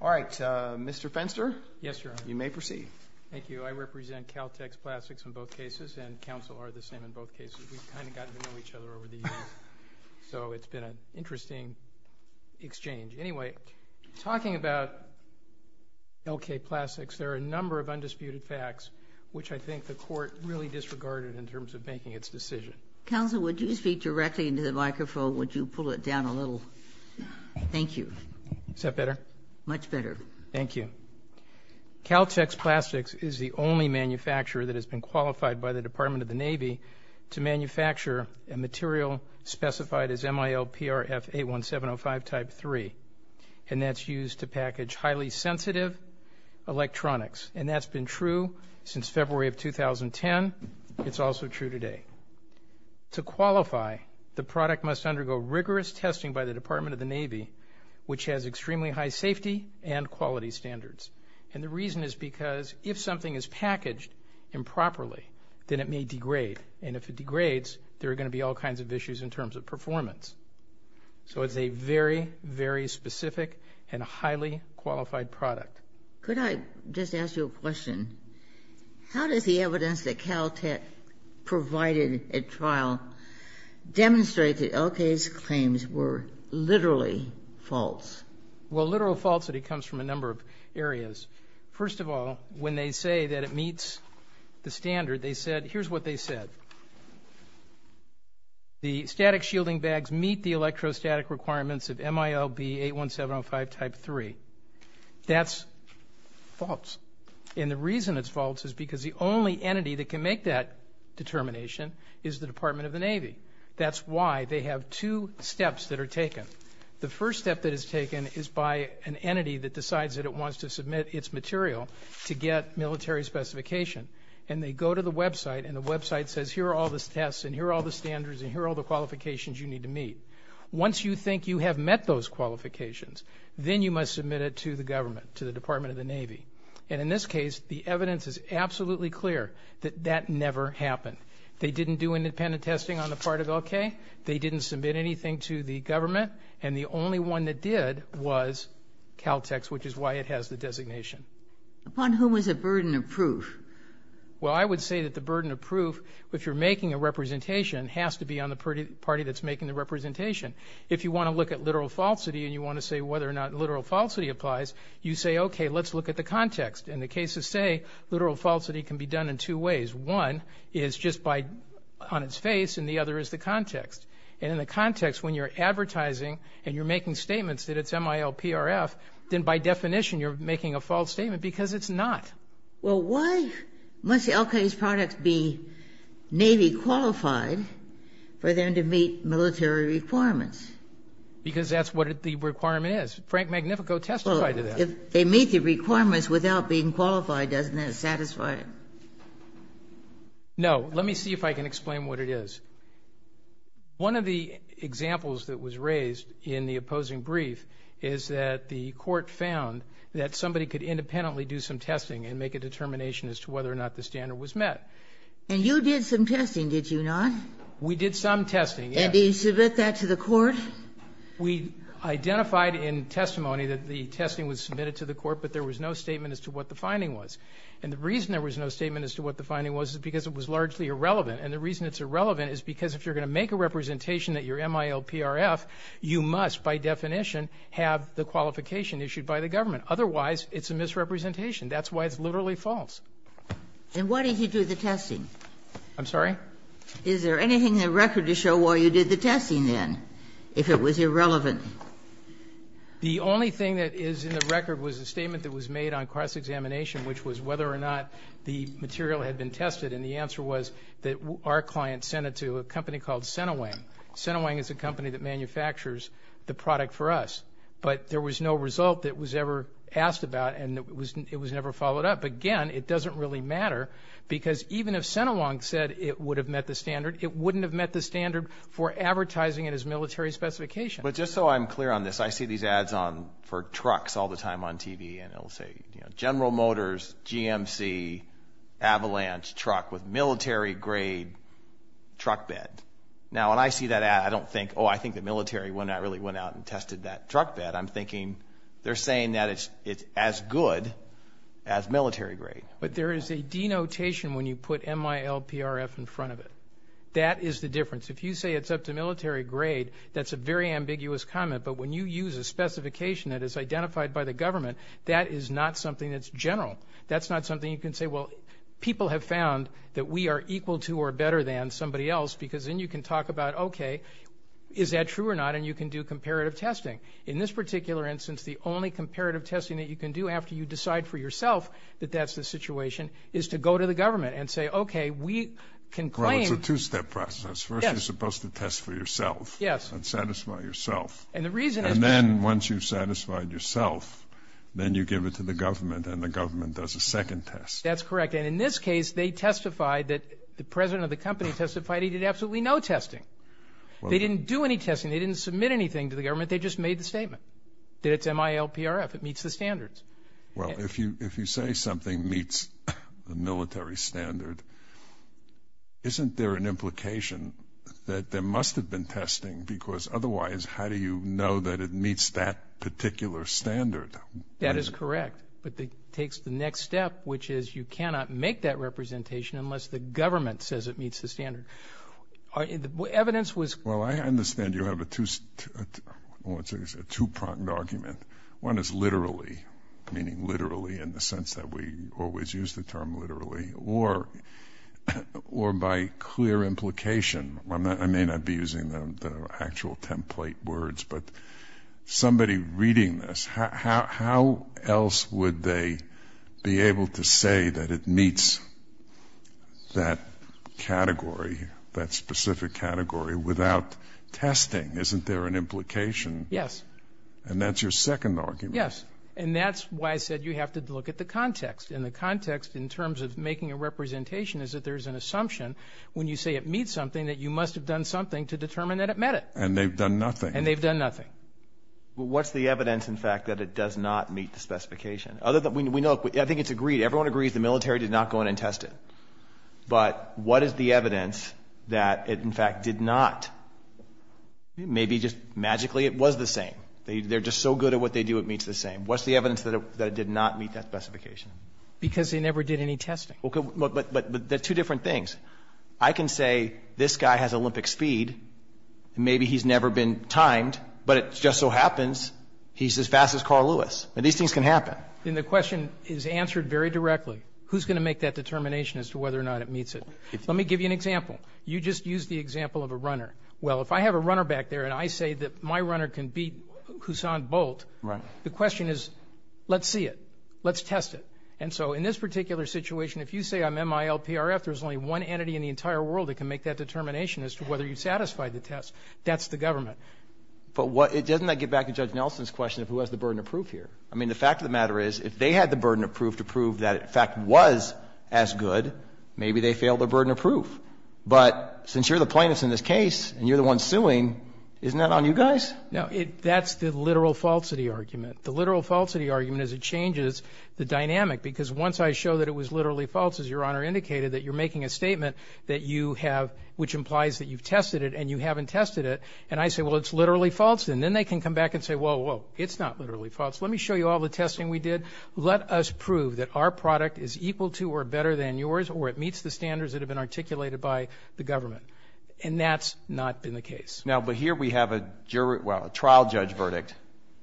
All right, Mr. Fenster. Yes, Your Honor. You may proceed. Thank you. I represent Caltex Plastics in both cases, and counsel are the same in both cases. We've kind of gotten to know each other over the years, so it's been an interesting exchange. Anyway, talking about Elkay Plastics, there are a number of undisputed facts which I think the court really disregarded in terms of making its decision. Counsel, would you speak directly into the microphone? Would you pull it down a little? Thank you. Is that better? Much better. Thank you. Caltex Plastics is the only manufacturer that has been qualified by the Department of the Navy to manufacture a material specified as MIL-PRF-81705 Type III, and that's used to package highly sensitive electronics, and that's been true since February of 2010. It's also true today. To qualify, the product must undergo rigorous testing by the Department of the Navy, which has extremely high safety and quality standards, and the reason is because if something is packaged improperly, then it may degrade, and if it degrades, there are going to be all kinds of issues in terms of performance. So it's a very, very specific and highly qualified product. Could I just ask you a question? How does the evidence that Caltech provided at trial demonstrate that LK's claims were literally false? Well, literal falsity comes from a number of areas. First of all, when they say that it meets the standard, they said, here's what they said, the static shielding bags meet the electrostatic requirements of MIL-B81705 Type III. That's false, and the reason it's false is because the only entity that can make that determination is the Department of the Navy. That's why they have two steps that are taken. The first step that is taken is by an entity that decides that it wants to submit its material to get military specification, and they go to the website, and the website says, here are all the tests, and here are all the standards, and here are all the qualifications you need to meet. Once you think you have met those qualifications, then you must submit it to the government, to the Department of the Navy. And in this case, the evidence is absolutely clear that that never happened. They didn't do independent testing on the part of LK. They didn't submit anything to the government, and the only one that did was Caltech's, which is why it has the designation. Upon whom is the burden of proof? Well, I would say that the burden of proof, if you're making a representation, has to be on the party that's making the representation. If you want to look at literal falsity and you want to say whether or not literal falsity applies, you say, okay, let's look at the context. In the case of say, literal falsity can be done in two ways. One is just by on its face, and the other is the context. And in the context, when you're advertising and you're making statements that it's MILPRF, then by definition, you're making a false statement because it's not. Well, why must the LK's products be Navy qualified for them to meet military requirements? Because that's what the requirement is. Frank Magnifico testified to that. Well, if they meet the requirements without being qualified, doesn't that satisfy it? No. Let me see if I can explain what it is. One of the examples that was raised in the opposing brief is that the Court found that somebody could independently do some testing and make a determination as to whether or not the standard was met. And you did some testing, did you not? We did some testing, yes. And did you submit that to the Court? We identified in testimony that the testing was submitted to the Court, but there was no statement as to what the finding was. And the reason there was no statement as to what the finding was is because it was largely irrelevant, and the reason it's irrelevant is because if you're going to make a representation at your MILPRF, you must, by definition, have the qualification issued by the government. Otherwise, it's a misrepresentation. That's why it's literally false. And why did you do the testing? I'm sorry? Is there anything in the record to show why you did the testing then, if it was irrelevant? The only thing that is in the record was a statement that was made on cross-examination, which was whether or not the material had been tested, and the answer was that our client sent it to a company called Senawang. Senawang is a company that manufactures the product for us, but there was no result that was ever asked about, and it was never followed up. Again, it doesn't really matter, because even if Senawang said it would have met the standard, it wouldn't have met the standard for advertising it as military specification. But just so I'm clear on this, I see these ads for trucks all the time on TV, and it'll say, you know, General Motors, GMC, Avalanche truck with military-grade truck bed. Now, when I see that ad, I don't think, oh, I think the military really went out and tested that truck bed. I'm thinking they're saying that it's as good as military-grade. But there is a denotation when you put MILPRF in front of it. That is the difference. If you say it's up to military grade, that's a very ambiguous comment. But when you use a specification that is identified by the government, that is not something that's general. That's not something you can say, well, people have found that we are equal to or better than somebody else, because then you can talk about, OK, is that true or not, and you can do comparative testing. In this particular instance, the only comparative testing that you can do after you decide for yourself that that's the situation is to go to the government and say, OK, we can claim Well, it's a two-step process. Yes. First, you're supposed to test for yourself. Yes. And then satisfy yourself. And the reason is And then, once you've satisfied yourself, then you give it to the government, and the government does a second test. That's correct. And in this case, they testified that the president of the company testified he did absolutely no testing. Well They didn't do any testing. They didn't submit anything to the government. They just made the statement that it's MILPRF. It meets the standards. Well, if you say something meets the military standard, isn't there an implication that there must have been testing, because otherwise, how do you know that it meets that particular standard? That is correct. But it takes the next step, which is you cannot make that representation unless the government says it meets the standard. Evidence was Well, I understand you have a two-pronged argument. One is literally, meaning literally in the sense that we always use the term literally, or by clear implication. I may not be using the actual template words, but somebody reading this, how else would they be able to say that it meets that category, that specific category, without testing? Isn't there an implication? Yes. And that's your second argument. Yes. And that's why I said you have to look at the context. And the context in terms of making a representation is that there's an assumption when you say it meets something, that you must have done something to determine that it met it. And they've done nothing. And they've done nothing. Well, what's the evidence, in fact, that it does not meet the specification? I think it's agreed. Everyone agrees the military did not go in and test it. But what is the evidence that it, in fact, did not? Maybe just magically it was the same. They're just so good at what they do, it meets the same. What's the evidence that it did not meet that specification? Because they never did any testing. But they're two different things. I can say this guy has Olympic speed and maybe he's never been timed, but it just so happens he's as fast as Carl Lewis. And these things can happen. And the question is answered very directly. Who's going to make that determination as to whether or not it meets it? Let me give you an example. You just used the example of a runner. Well, if I have a runner back there and I say that my runner can beat Hussan Bolt, the question is, let's see it. Let's test it. And so in this particular situation, if you say I'm MILPRF, there's only one entity in the entire world that can make that determination as to whether you satisfied the test. That's the government. But what — doesn't that get back to Judge Nelson's question of who has the burden of proof here? I mean, the fact of the matter is, if they had the burden of proof to prove that it, in fact, was as good, maybe they failed the burden of proof. But since you're the plaintiffs in this case and you're the ones suing, isn't that on you guys? No, that's the literal falsity argument. The literal falsity argument is it changes the dynamic. Because once I show that it was literally false, as Your Honor indicated, that you're making a statement that you have — which implies that you've tested it and you haven't tested it, and I say, well, it's literally false, and then they can come back and say, whoa, whoa, it's not literally false. Let me show you all the testing we did. Let us prove that our product is equal to or better than yours or it meets the standards that have been articulated by the government. And that's not been the case. Now, but here we have a jury — well, a trial judge verdict.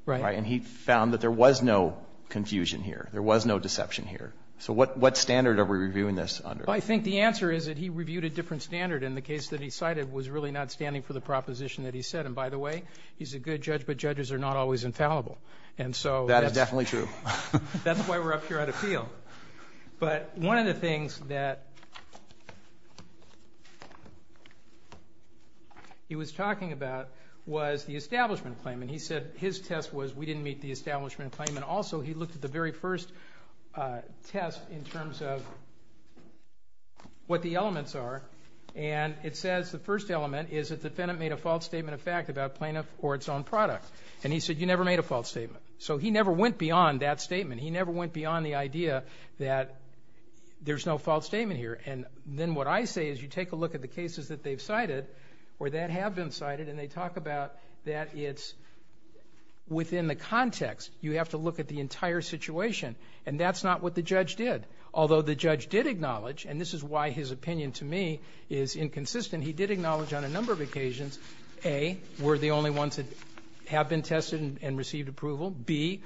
Right. And he found that there was no confusion here. There was no deception here. So what standard are we reviewing this under? I think the answer is that he reviewed a different standard and the case that he cited was really not standing for the proposition that he said. And by the way, he's a good judge, but judges are not always infallible. And so — That is definitely true. That's why we're up here at appeal. But one of the things that he was talking about was the establishment claim. And he said his test was we didn't meet the establishment claim. And also, he looked at the very first test in terms of what the elements are, and it says the first element is that the defendant made a false statement of fact about plaintiff or its own product. And he said you never made a false statement. So he never went beyond that statement. He never went beyond the idea that there's no false statement here. And then what I say is you take a look at the cases that they've cited or that have been cited and they talk about that it's within the context. You have to look at the entire situation. And that's not what the judge did. Although the judge did acknowledge, and this is why his opinion to me is inconsistent, he did acknowledge on a number of occasions, A, we're the only ones that have been tested and received approval. B,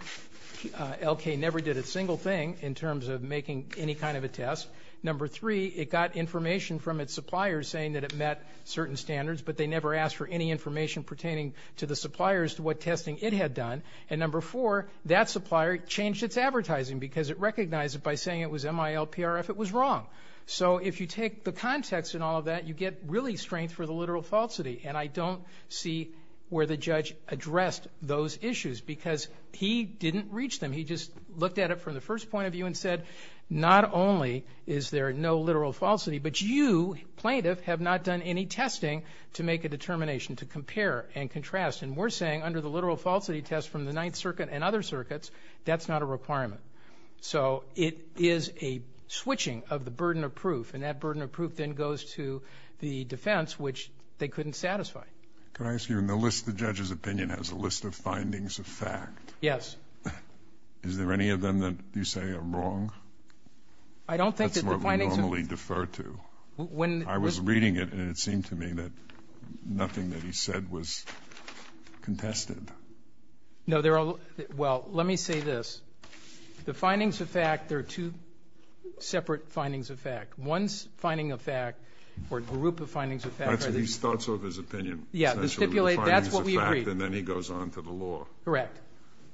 L.K. never did a single thing in terms of making any kind of a test. Number three, it got information from its suppliers saying that it met certain standards, but they never asked for any information pertaining to the suppliers to what testing it had done. And number four, that supplier changed its advertising because it recognized it by saying it was MILPRF. It was wrong. So if you take the context in all of that, you get really strength for the literal falsity. And I don't see where the judge addressed those issues because he didn't reach them. He just looked at it from the first point of view and said not only is there no literal falsity, but you, plaintiff, have not done any testing to make a determination to compare and contrast. And we're saying under the literal falsity test from the Ninth Circuit and other circuits, that's not a requirement. So it is a switching of the burden of proof, and that burden of proof then goes to the defense, which they couldn't satisfy. Can I ask you, in the list, the judge's opinion has a list of findings of fact. Yes. Is there any of them that you say are wrong? I don't think that the findings are... That's what we normally defer to. When... I was reading it, and it seemed to me that nothing that he said was contested. No, there are... Well, let me say this. The findings of fact, there are two separate findings of fact. One finding of fact, or group of findings of fact... He starts off his opinion, essentially. That's what we agree. And then he goes on to the law. Correct.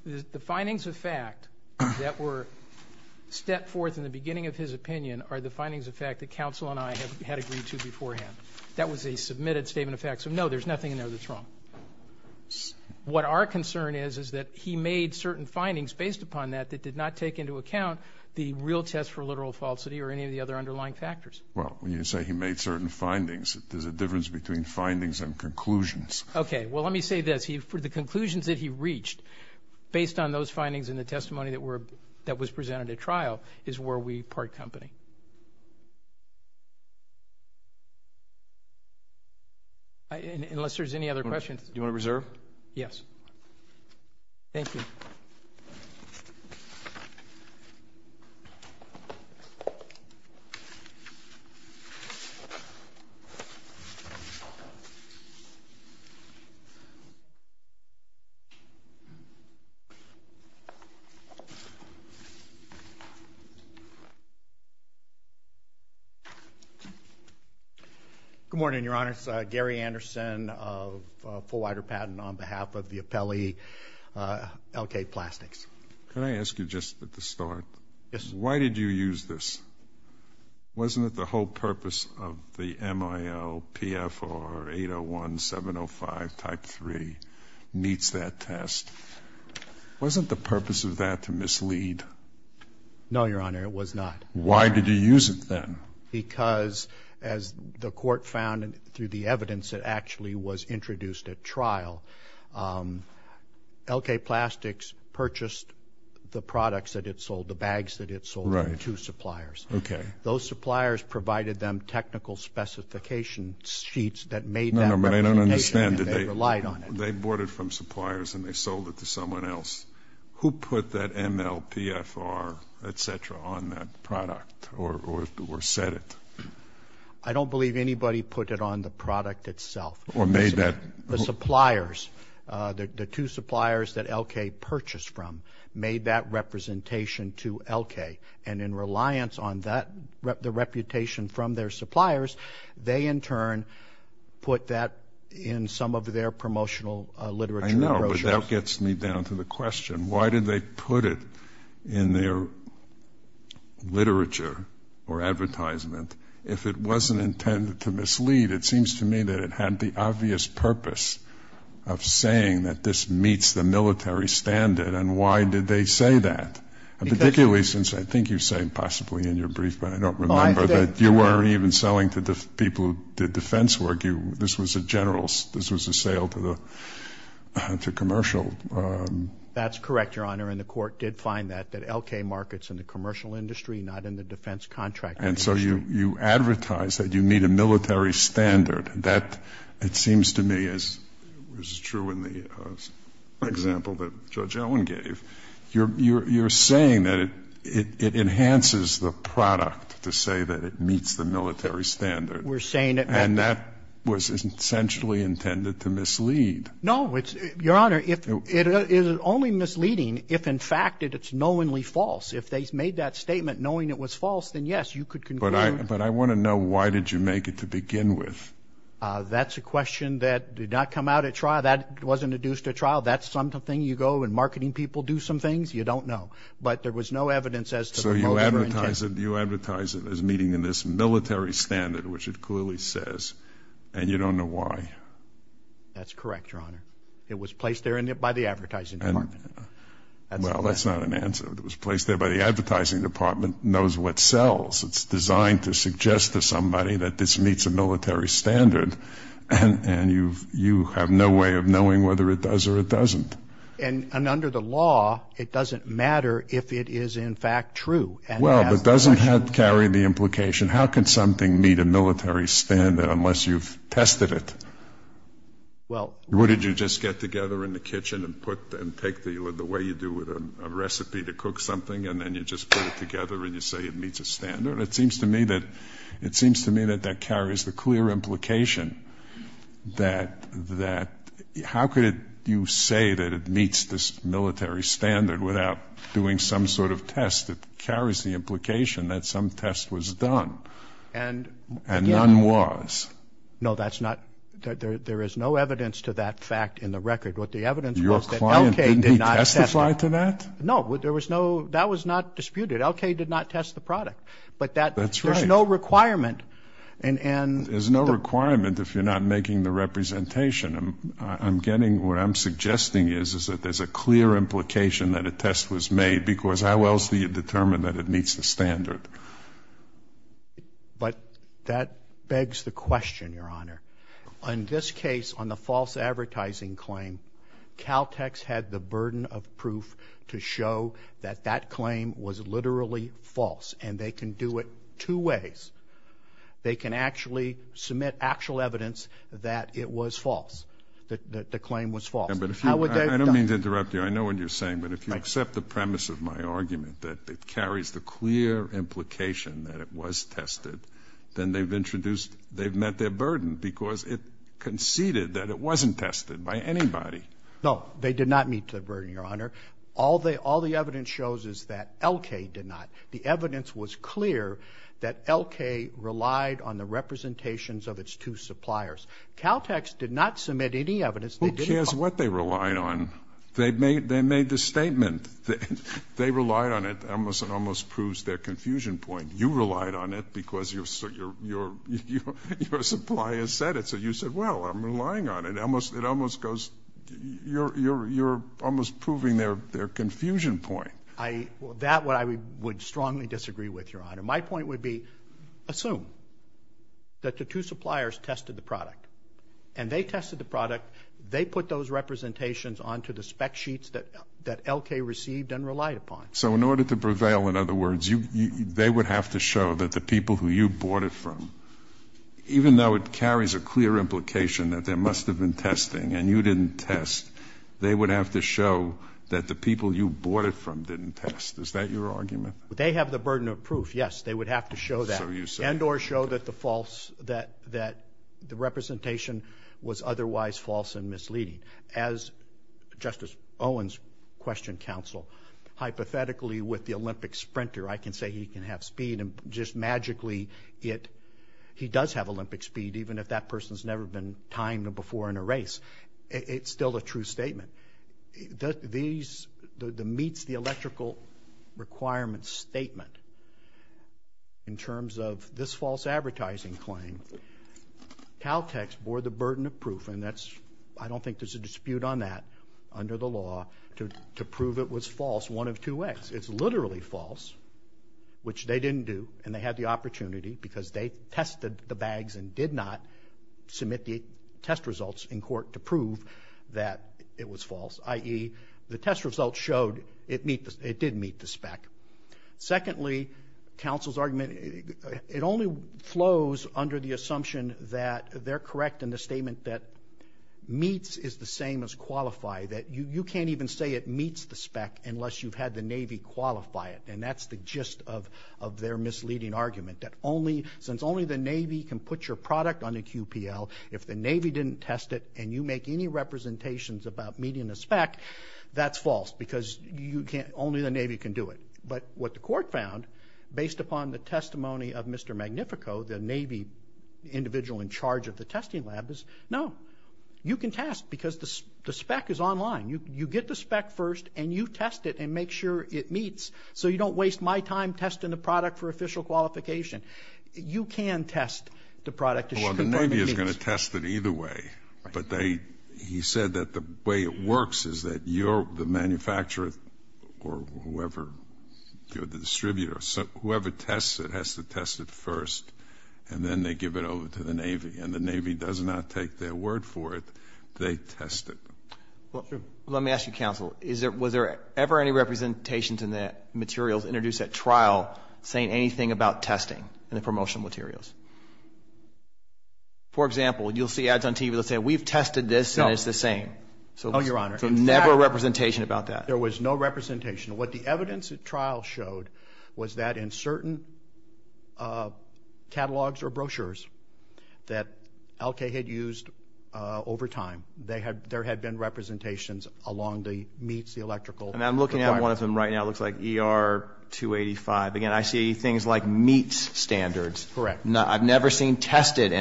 The findings of fact that were stepped forth in the beginning of his opinion are the findings of fact that counsel and I had agreed to beforehand. That was a submitted statement of fact. So, no, there's nothing in there that's wrong. What our concern is, is that he made certain findings based upon that that did not take into account the real test for literal falsity or any of the other underlying factors. Well, when you say he made certain findings, there's a difference between findings and conclusions. Okay. Well, let me say this. For the conclusions that he reached, based on those findings and the testimony that was presented at trial, is where we part company. Unless there's any other questions... Do you want to reserve? Yes. Thank you. Thank you. Good morning, Your Honor. It's Gary Anderson of Full Wider Patent on behalf of the appellee, LK Plastics. Can I ask you, just at the start... Yes. Why did you use this? Wasn't it the whole purpose of the MIL-PFR-801-705-Type 3 meets that test? Wasn't the purpose of that to mislead? No, Your Honor, it was not. Why did you use it then? Because, as the court found through the evidence that actually was introduced at trial, LK Plastics purchased the products that it sold, the bags that it sold... Right. ...from the two suppliers. Okay. Those suppliers provided them technical specification sheets that made that representation... No, no, but I don't understand. ...and they relied on it. They bought it from suppliers and they sold it to someone else. Who put that MIL-PFR, et cetera, on that product or said it? I don't believe anybody put it on the product itself. Or made that... The suppliers, the two suppliers that LK purchased from, made that representation to LK and in reliance on that, the reputation from their suppliers, they in turn put that in some of their promotional literature brochures. I know, but that gets me down to the question. Why did they put it in their literature or advertisement if it wasn't intended to mislead? It seems to me that it had the obvious purpose of saying that this meets the military standard and why did they say that? Particularly since I think you say, possibly in your brief, but I don't remember, that you weren't even selling to the people who did defense work. This was a general, this was a sale to commercial... That's correct, Your Honor, and the court did find that, that LK markets in the commercial industry not in the defense contracting industry. And so you advertise that you meet a military standard. That, it seems to me, is true in the example that Judge Owen gave. You're saying that it enhances the product to say that it meets the military standard. We're saying that... And that was essentially intended to mislead. No. Your Honor, it is only misleading if in fact it's knowingly false. If they made that statement knowing it was false, then yes, you could conclude... But I want to know why did you make it to begin with? That's a question that did not come out at trial. That wasn't adduced at trial. That's something you go and marketing people do some things. You don't know. But there was no evidence as to the motive or intent. So you advertise it as meeting this military standard, which it clearly says, and you don't know why. That's correct, Your Honor. It was placed there by the advertising department. Well, that's not an answer. It was placed there by the advertising department knows what sells. It's designed to suggest to somebody that this meets a military standard and you have no way of knowing whether it does or it doesn't. And under the law, it doesn't matter if it is in fact true. Well, but doesn't that carry the implication? How could something meet a military standard unless you've tested it? Well... What did you just get together in the kitchen and put and take the way you do with a recipe to cook something and then you just put it together and you say it meets a standard? It seems to me that it seems to me that that carries the clear implication that that... You say that it meets this military standard without doing some sort of test that carries the implication that some test was done and none was. No, that's not... There is no evidence to that fact in the record. What the evidence was that L.K. did not test it. Your client didn't testify to that? No. There was no... That was not disputed. L.K. did not test the product. But that... That's right. There's no requirement and... There's no requirement if you're not making the representation. I'm getting... What I'm suggesting is that there's a clear implication that a test was made because how else do you determine that it meets the standard? But that begs the question, Your Honor. On this case, on the false advertising claim, Caltech's had the burden of proof to show that that claim was literally false and they can do it two ways. They can actually submit actual evidence that it was false. That the claim was false. But if you... I don't mean to interrupt you. I know what you're saying. But if you accept the premise of my argument that it carries the clear implication that it was tested, then they've introduced... They've met their burden because it conceded that it wasn't tested by anybody. No. They did not meet the burden, Your Honor. shows is that L.K. did not. The evidence was clear that L.K. relied on the representations of its two suppliers. Caltech's did not test the product They did not submit any evidence that it was false. Who cares what they relied on? They made this statement. They relied on it. It almost proves their confusion point. You relied on it because your supplier said it. So you said, well, I'm relying on it. It almost goes... You're almost proving That, what I would strongly disagree with, Your Honor. My point would be assume that the two suppliers tested the product and they tested the product and they tested the product they put those representations onto the spec sheets that L.K. received and relied upon. So in order to prevail in other words you, they would have to show that the people who you bought it from even though it carries a clear implication that there must have been testing and you didn't test they would have to show that the people you bought it from didn't test. Is that your argument? They have the burden of proof, yes. They would have to show that and or show that the false that the representation was otherwise false and misleading. As Justice Owens questioned counsel hypothetically with the Olympic sprinter I can say he can have speed and just magically it he does have Olympic speed even if that person has never been timed before in a race it's still a true statement. These the meets the electrical requirements statement in terms of this false advertising claim Caltech bore the burden of proof and that's I don't think there's a dispute on that under the law to prove it was false one of two ways it's literally false which they didn't do and they had the opportunity because they tested the bags and did not submit the test results in court to prove that it was false i.e. the test results showed it did meet the spec secondly counsel's argument it only flows under the assumption that they're correct in the statement that meets is the same as qualify you can't even say it meets the spec unless you've had the Navy qualify it and that's the gist of their misleading argument since only the Navy can put your product on the QPL if the Navy didn't test it and you make any representations about meeting the spec that's false because only the Navy can do it but what the court found based upon the testimony of Mr. Magnifico the Navy individual in charge of the testing lab is no you can test because the spec is online you get the spec first and you test it and make sure it meets so you don't waste my time testing the product for official qualification you can test the product the Navy is going to test it either way but they he said that the way it works is that the manufacturer or whoever the distributor whoever tests it has to test it first and then they give it over to the Navy and the Navy does not take their word for it they test it let me ask you counsel was there ever any representations in that materials introduced at trial saying anything about testing in the promotional materials for example you'll see ads on TV that say we've tested this and it's the same so never representation about that there was no representation what the evidence of trial showed was that in certain catalogs or brochures that LK had used over time there had been representations along the LK so we never seen standard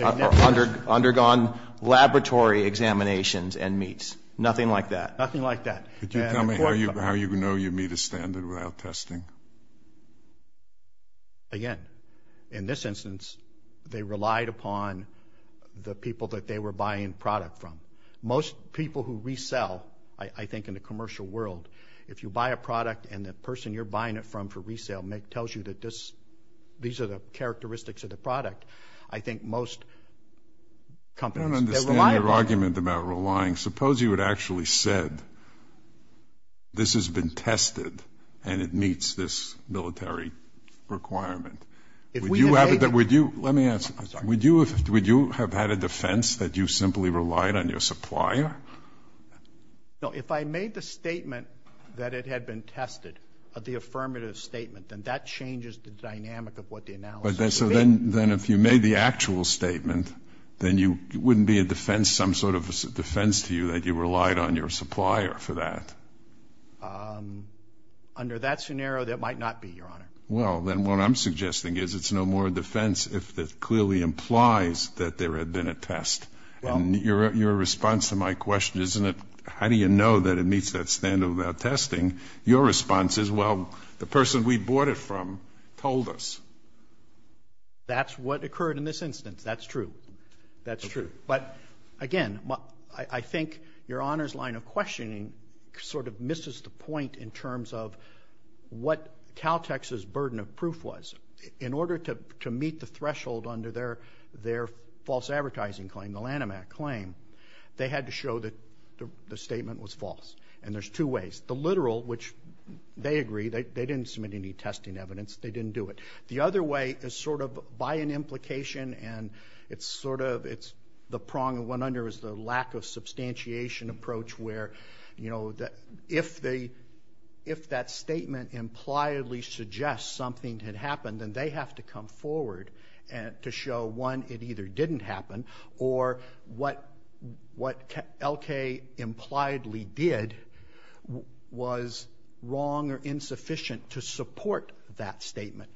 and meets undergone laboratory examinations and meets nothing like that nothing like that nothing like that nothing like that nothing like that one the people that they were buying product from most people who we sell I think in the commercial world if you buy a product and the person you're buying it from for resale make it tells you that this these are the characteristics of the product I think most companies I don't understand your argument about relying suppose you had actually said this has been tested and it meets this military requirement if we would you have had a defense that you simply relied on your supplier? No, if I made the statement that it had been tested of the affirmative statement then that changes the dynamic of what the analysis would be But then so then then if you made the actual statement then you wouldn't be a defense some sort of a defense to you that you relied on your supplier for that? Um under that scenario that might not be, your honor Well, then what I'm suggesting is it's no more a defense if that clearly implies that there had been a test and your response to my question isn't it how do you know that it meets that standard without testing? Your response is well, the person we bought it from told us That's what occurred in this instance That's true That's true But again I think your honor's line of questioning sort of misses the point in terms of what Caltex's burden of proof was in order to to meet the threshold under their their false advertising claim the Lanham Act claim they had to show that the statement was false and there's two ways the literal, which they agree they didn't submit any testing evidence they didn't do it the other way is sort of by an implication and it's sort of it's the prong that went under is the lack of substantiation approach where you know if they if that statement impliedly suggests something had happened then they have to come forward to show one, it either didn't happen or what what L.K. impliedly did was wrong or insufficient to support that statement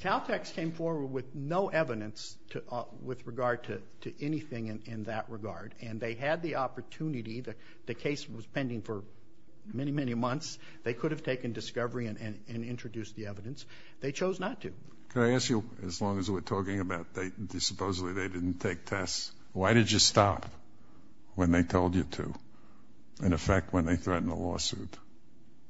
Caltex came forward with no evidence to with regard to to anything in that regard and they had the opportunity the case was pending for many, many months they could have taken discovery and and introduced the evidence they chose not to Can I ask you as long as we're talking about they supposedly they didn't take tests why did you stop when they told you to in effect when they threatened a lawsuit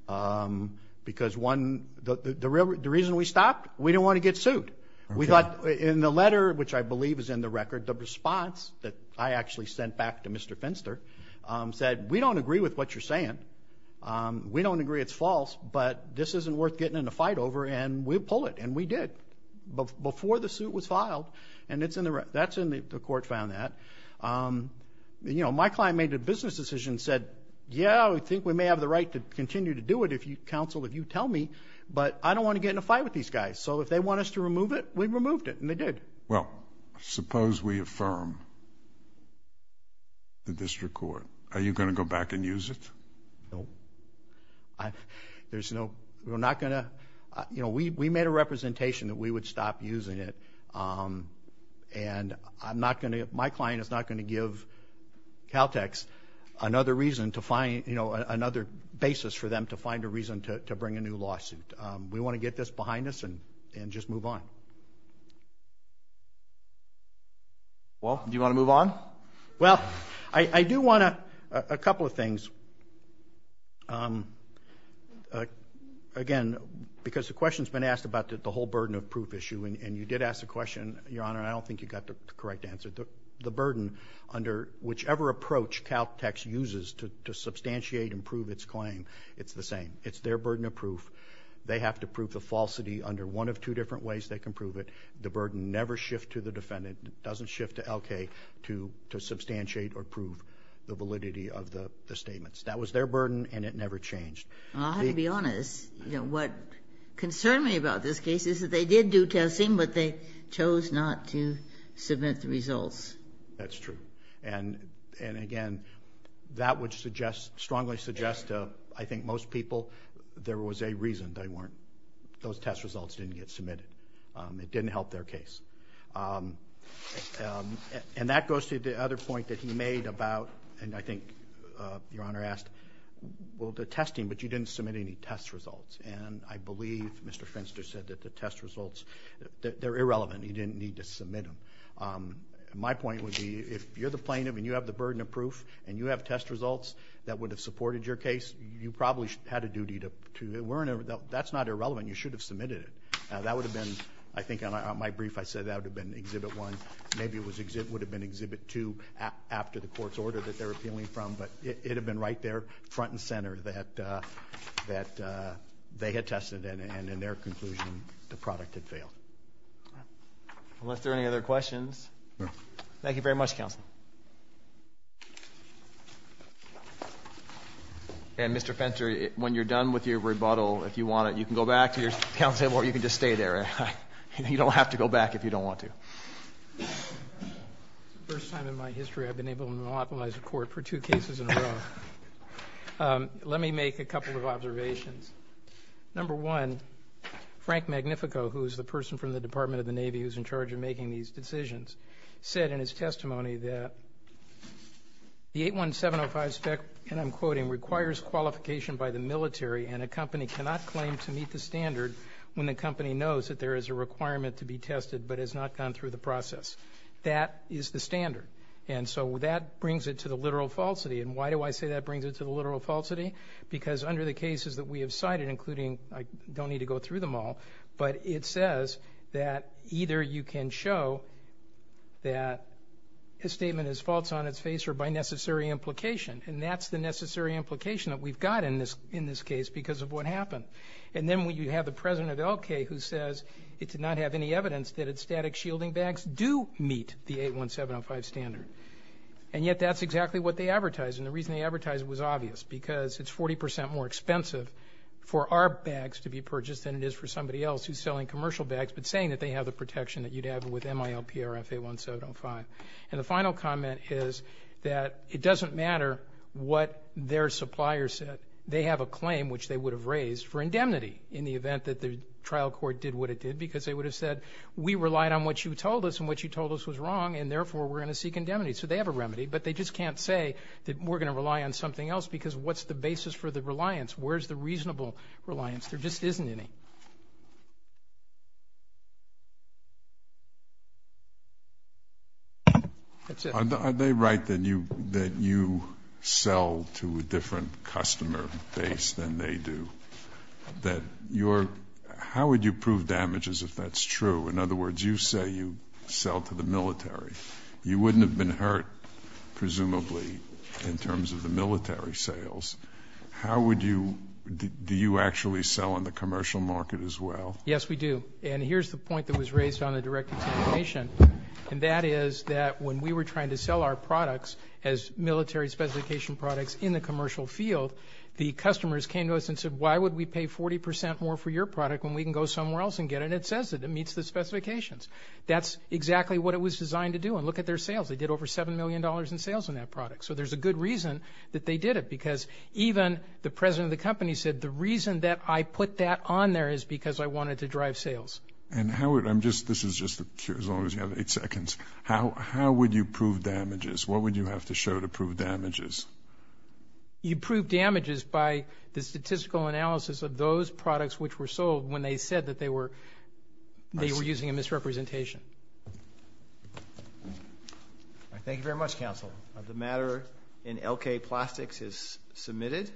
um because one the real the reason we stopped we didn't want to get sued we thought in the letter which I believe is in the record the response that I actually sent back to Mr. Finster um said we don't agree with what you're saying um we don't agree it's false but this isn't worth getting in a fight over and we'll pull it and we did before the suit was filed and it's in the that's in the the court found that um you know my client made a business decision said yeah I think we may have the right to continue to do it if you counsel if you tell me but I don't want to get in a fight with these guys so if they want us to remove it we removed it and they did well suppose we affirm the district court are you going to go back and use it no I there's no we're not going to you know we made a representation that we would stop using it um and I'm not going to my client is not going to give Caltex another reason to find you know another basis for them to find a reason to bring a new lawsuit um we want to get this behind us and and just move on well do you want to move on well I do want to a couple of things um uh again because the question's been asked about the whole burden of proof issue and you did ask the question your honor I don't think you got the correct answer the burden under whichever approach Caltex uses to substantiate and prove its claim it's the same it's their burden of proof they have to prove the falsity under one of two different ways they can prove it the burden never shift to the defendant doesn't shift to LK to to substantiate or prove the validity of the statements that was their burden and it never changed I'll have to be honest you know what concerned me about this case is that they did do testing but they chose not to submit the results that's true and and again that would suggest strongly suggest uh I think most people there was a reason they weren't those test results didn't get submitted um it didn't help their case um um and that goes to the other point that he made about and I think uh your honor asked well the testing but you didn't submit any test results and I believe Mr. Fenster said that the test results they're irrelevant you didn't need to submit them um my point would be if you're the plaintiff and you have the burden of proof and you have test results that would have supported your case you probably had a duty to to that's not irrelevant you should have submitted it that would have been I think on my brief I said that would have been exhibit one maybe it would have been exhibit two after the court's order that they're appealing from but it would have been right there front and center that uh that uh they had tested and in their conclusion the product had failed unless there are any other questions no thank you very much counsel and Mr. Fenster when you're done with your rebuttal if you want it you can go back to your council table or you can just stay there you don't have to go back if you don't want to first time in my history I've been able to monopolize a court for two cases in a row let me make a couple of observations number one Frank Magnifico who is the person from the Department of the Navy who's in charge of making these decisions said in his testimony that the 81705 spec and I'm quoting requires qualification by the military and a company cannot claim to meet the standard when the company knows that there is a requirement to be tested but has not gone through the process that is the standard and so that brings it to the literal falsity and why do I say that brings it to the literal falsity because under the cases that we have cited including I don't need to go through them all but it says that either you can show that a statement is false on its face or by necessary implication and that's the necessary implication that we've got in this in this case because of what happened and then when you have the president of the L.K. who says it did not have any evidence that its static shielding bags do meet the 81705 standard and yet that's exactly what they advertise and the reason they advertise it was obvious because it's 40% more expensive for our bags to be purchased than it is for somebody else who's selling commercial bags but saying that they have the protection that you'd have with MIL-PRF-81705 and the final comment is that it doesn't matter what their supplier said they have a claim which they would have raised for indemnity in the event that the trial court did what it did because they would have said we relied on what you told us and what you told us was wrong and therefore we're going to seek indemnity so they have a remedy but they just can't say that we're going to rely on something else because what's the basis for the reliance where's the reasonable reliance that's it are they right that you that you sell to a different customer base than they do that your your your your your your your your your Yeah and how would you prove damage if that's true in other words you say you sell to the military you wouldn't have been hurt presumably in terms of the military sales how would do you do you actually sell on the commercial market as well Yes we do and here's the point that was raised on the direct contamination and that is that when we were trying to sell our products as military speciification products in the commercial field the customers came to us and said why would we pay 40 percent more for your product when we can go somewhere else and get it and it says it it meets the specifications that's exactly what it was designed to do and look at their sales they did over 7 million dollars in sales on that product so there's a good reason that they did it because even the president of the company said the reason that I put that on there is because I wanted to drive sales and how would I'm just this is just as long as you have eight seconds how would you prove damages what would you have to show to prove damages you prove damages by the statistical analysis of those products which were sold when they said that they were they were using a misrepresentation Thank you very much counsel the matter in LK plastics is submitted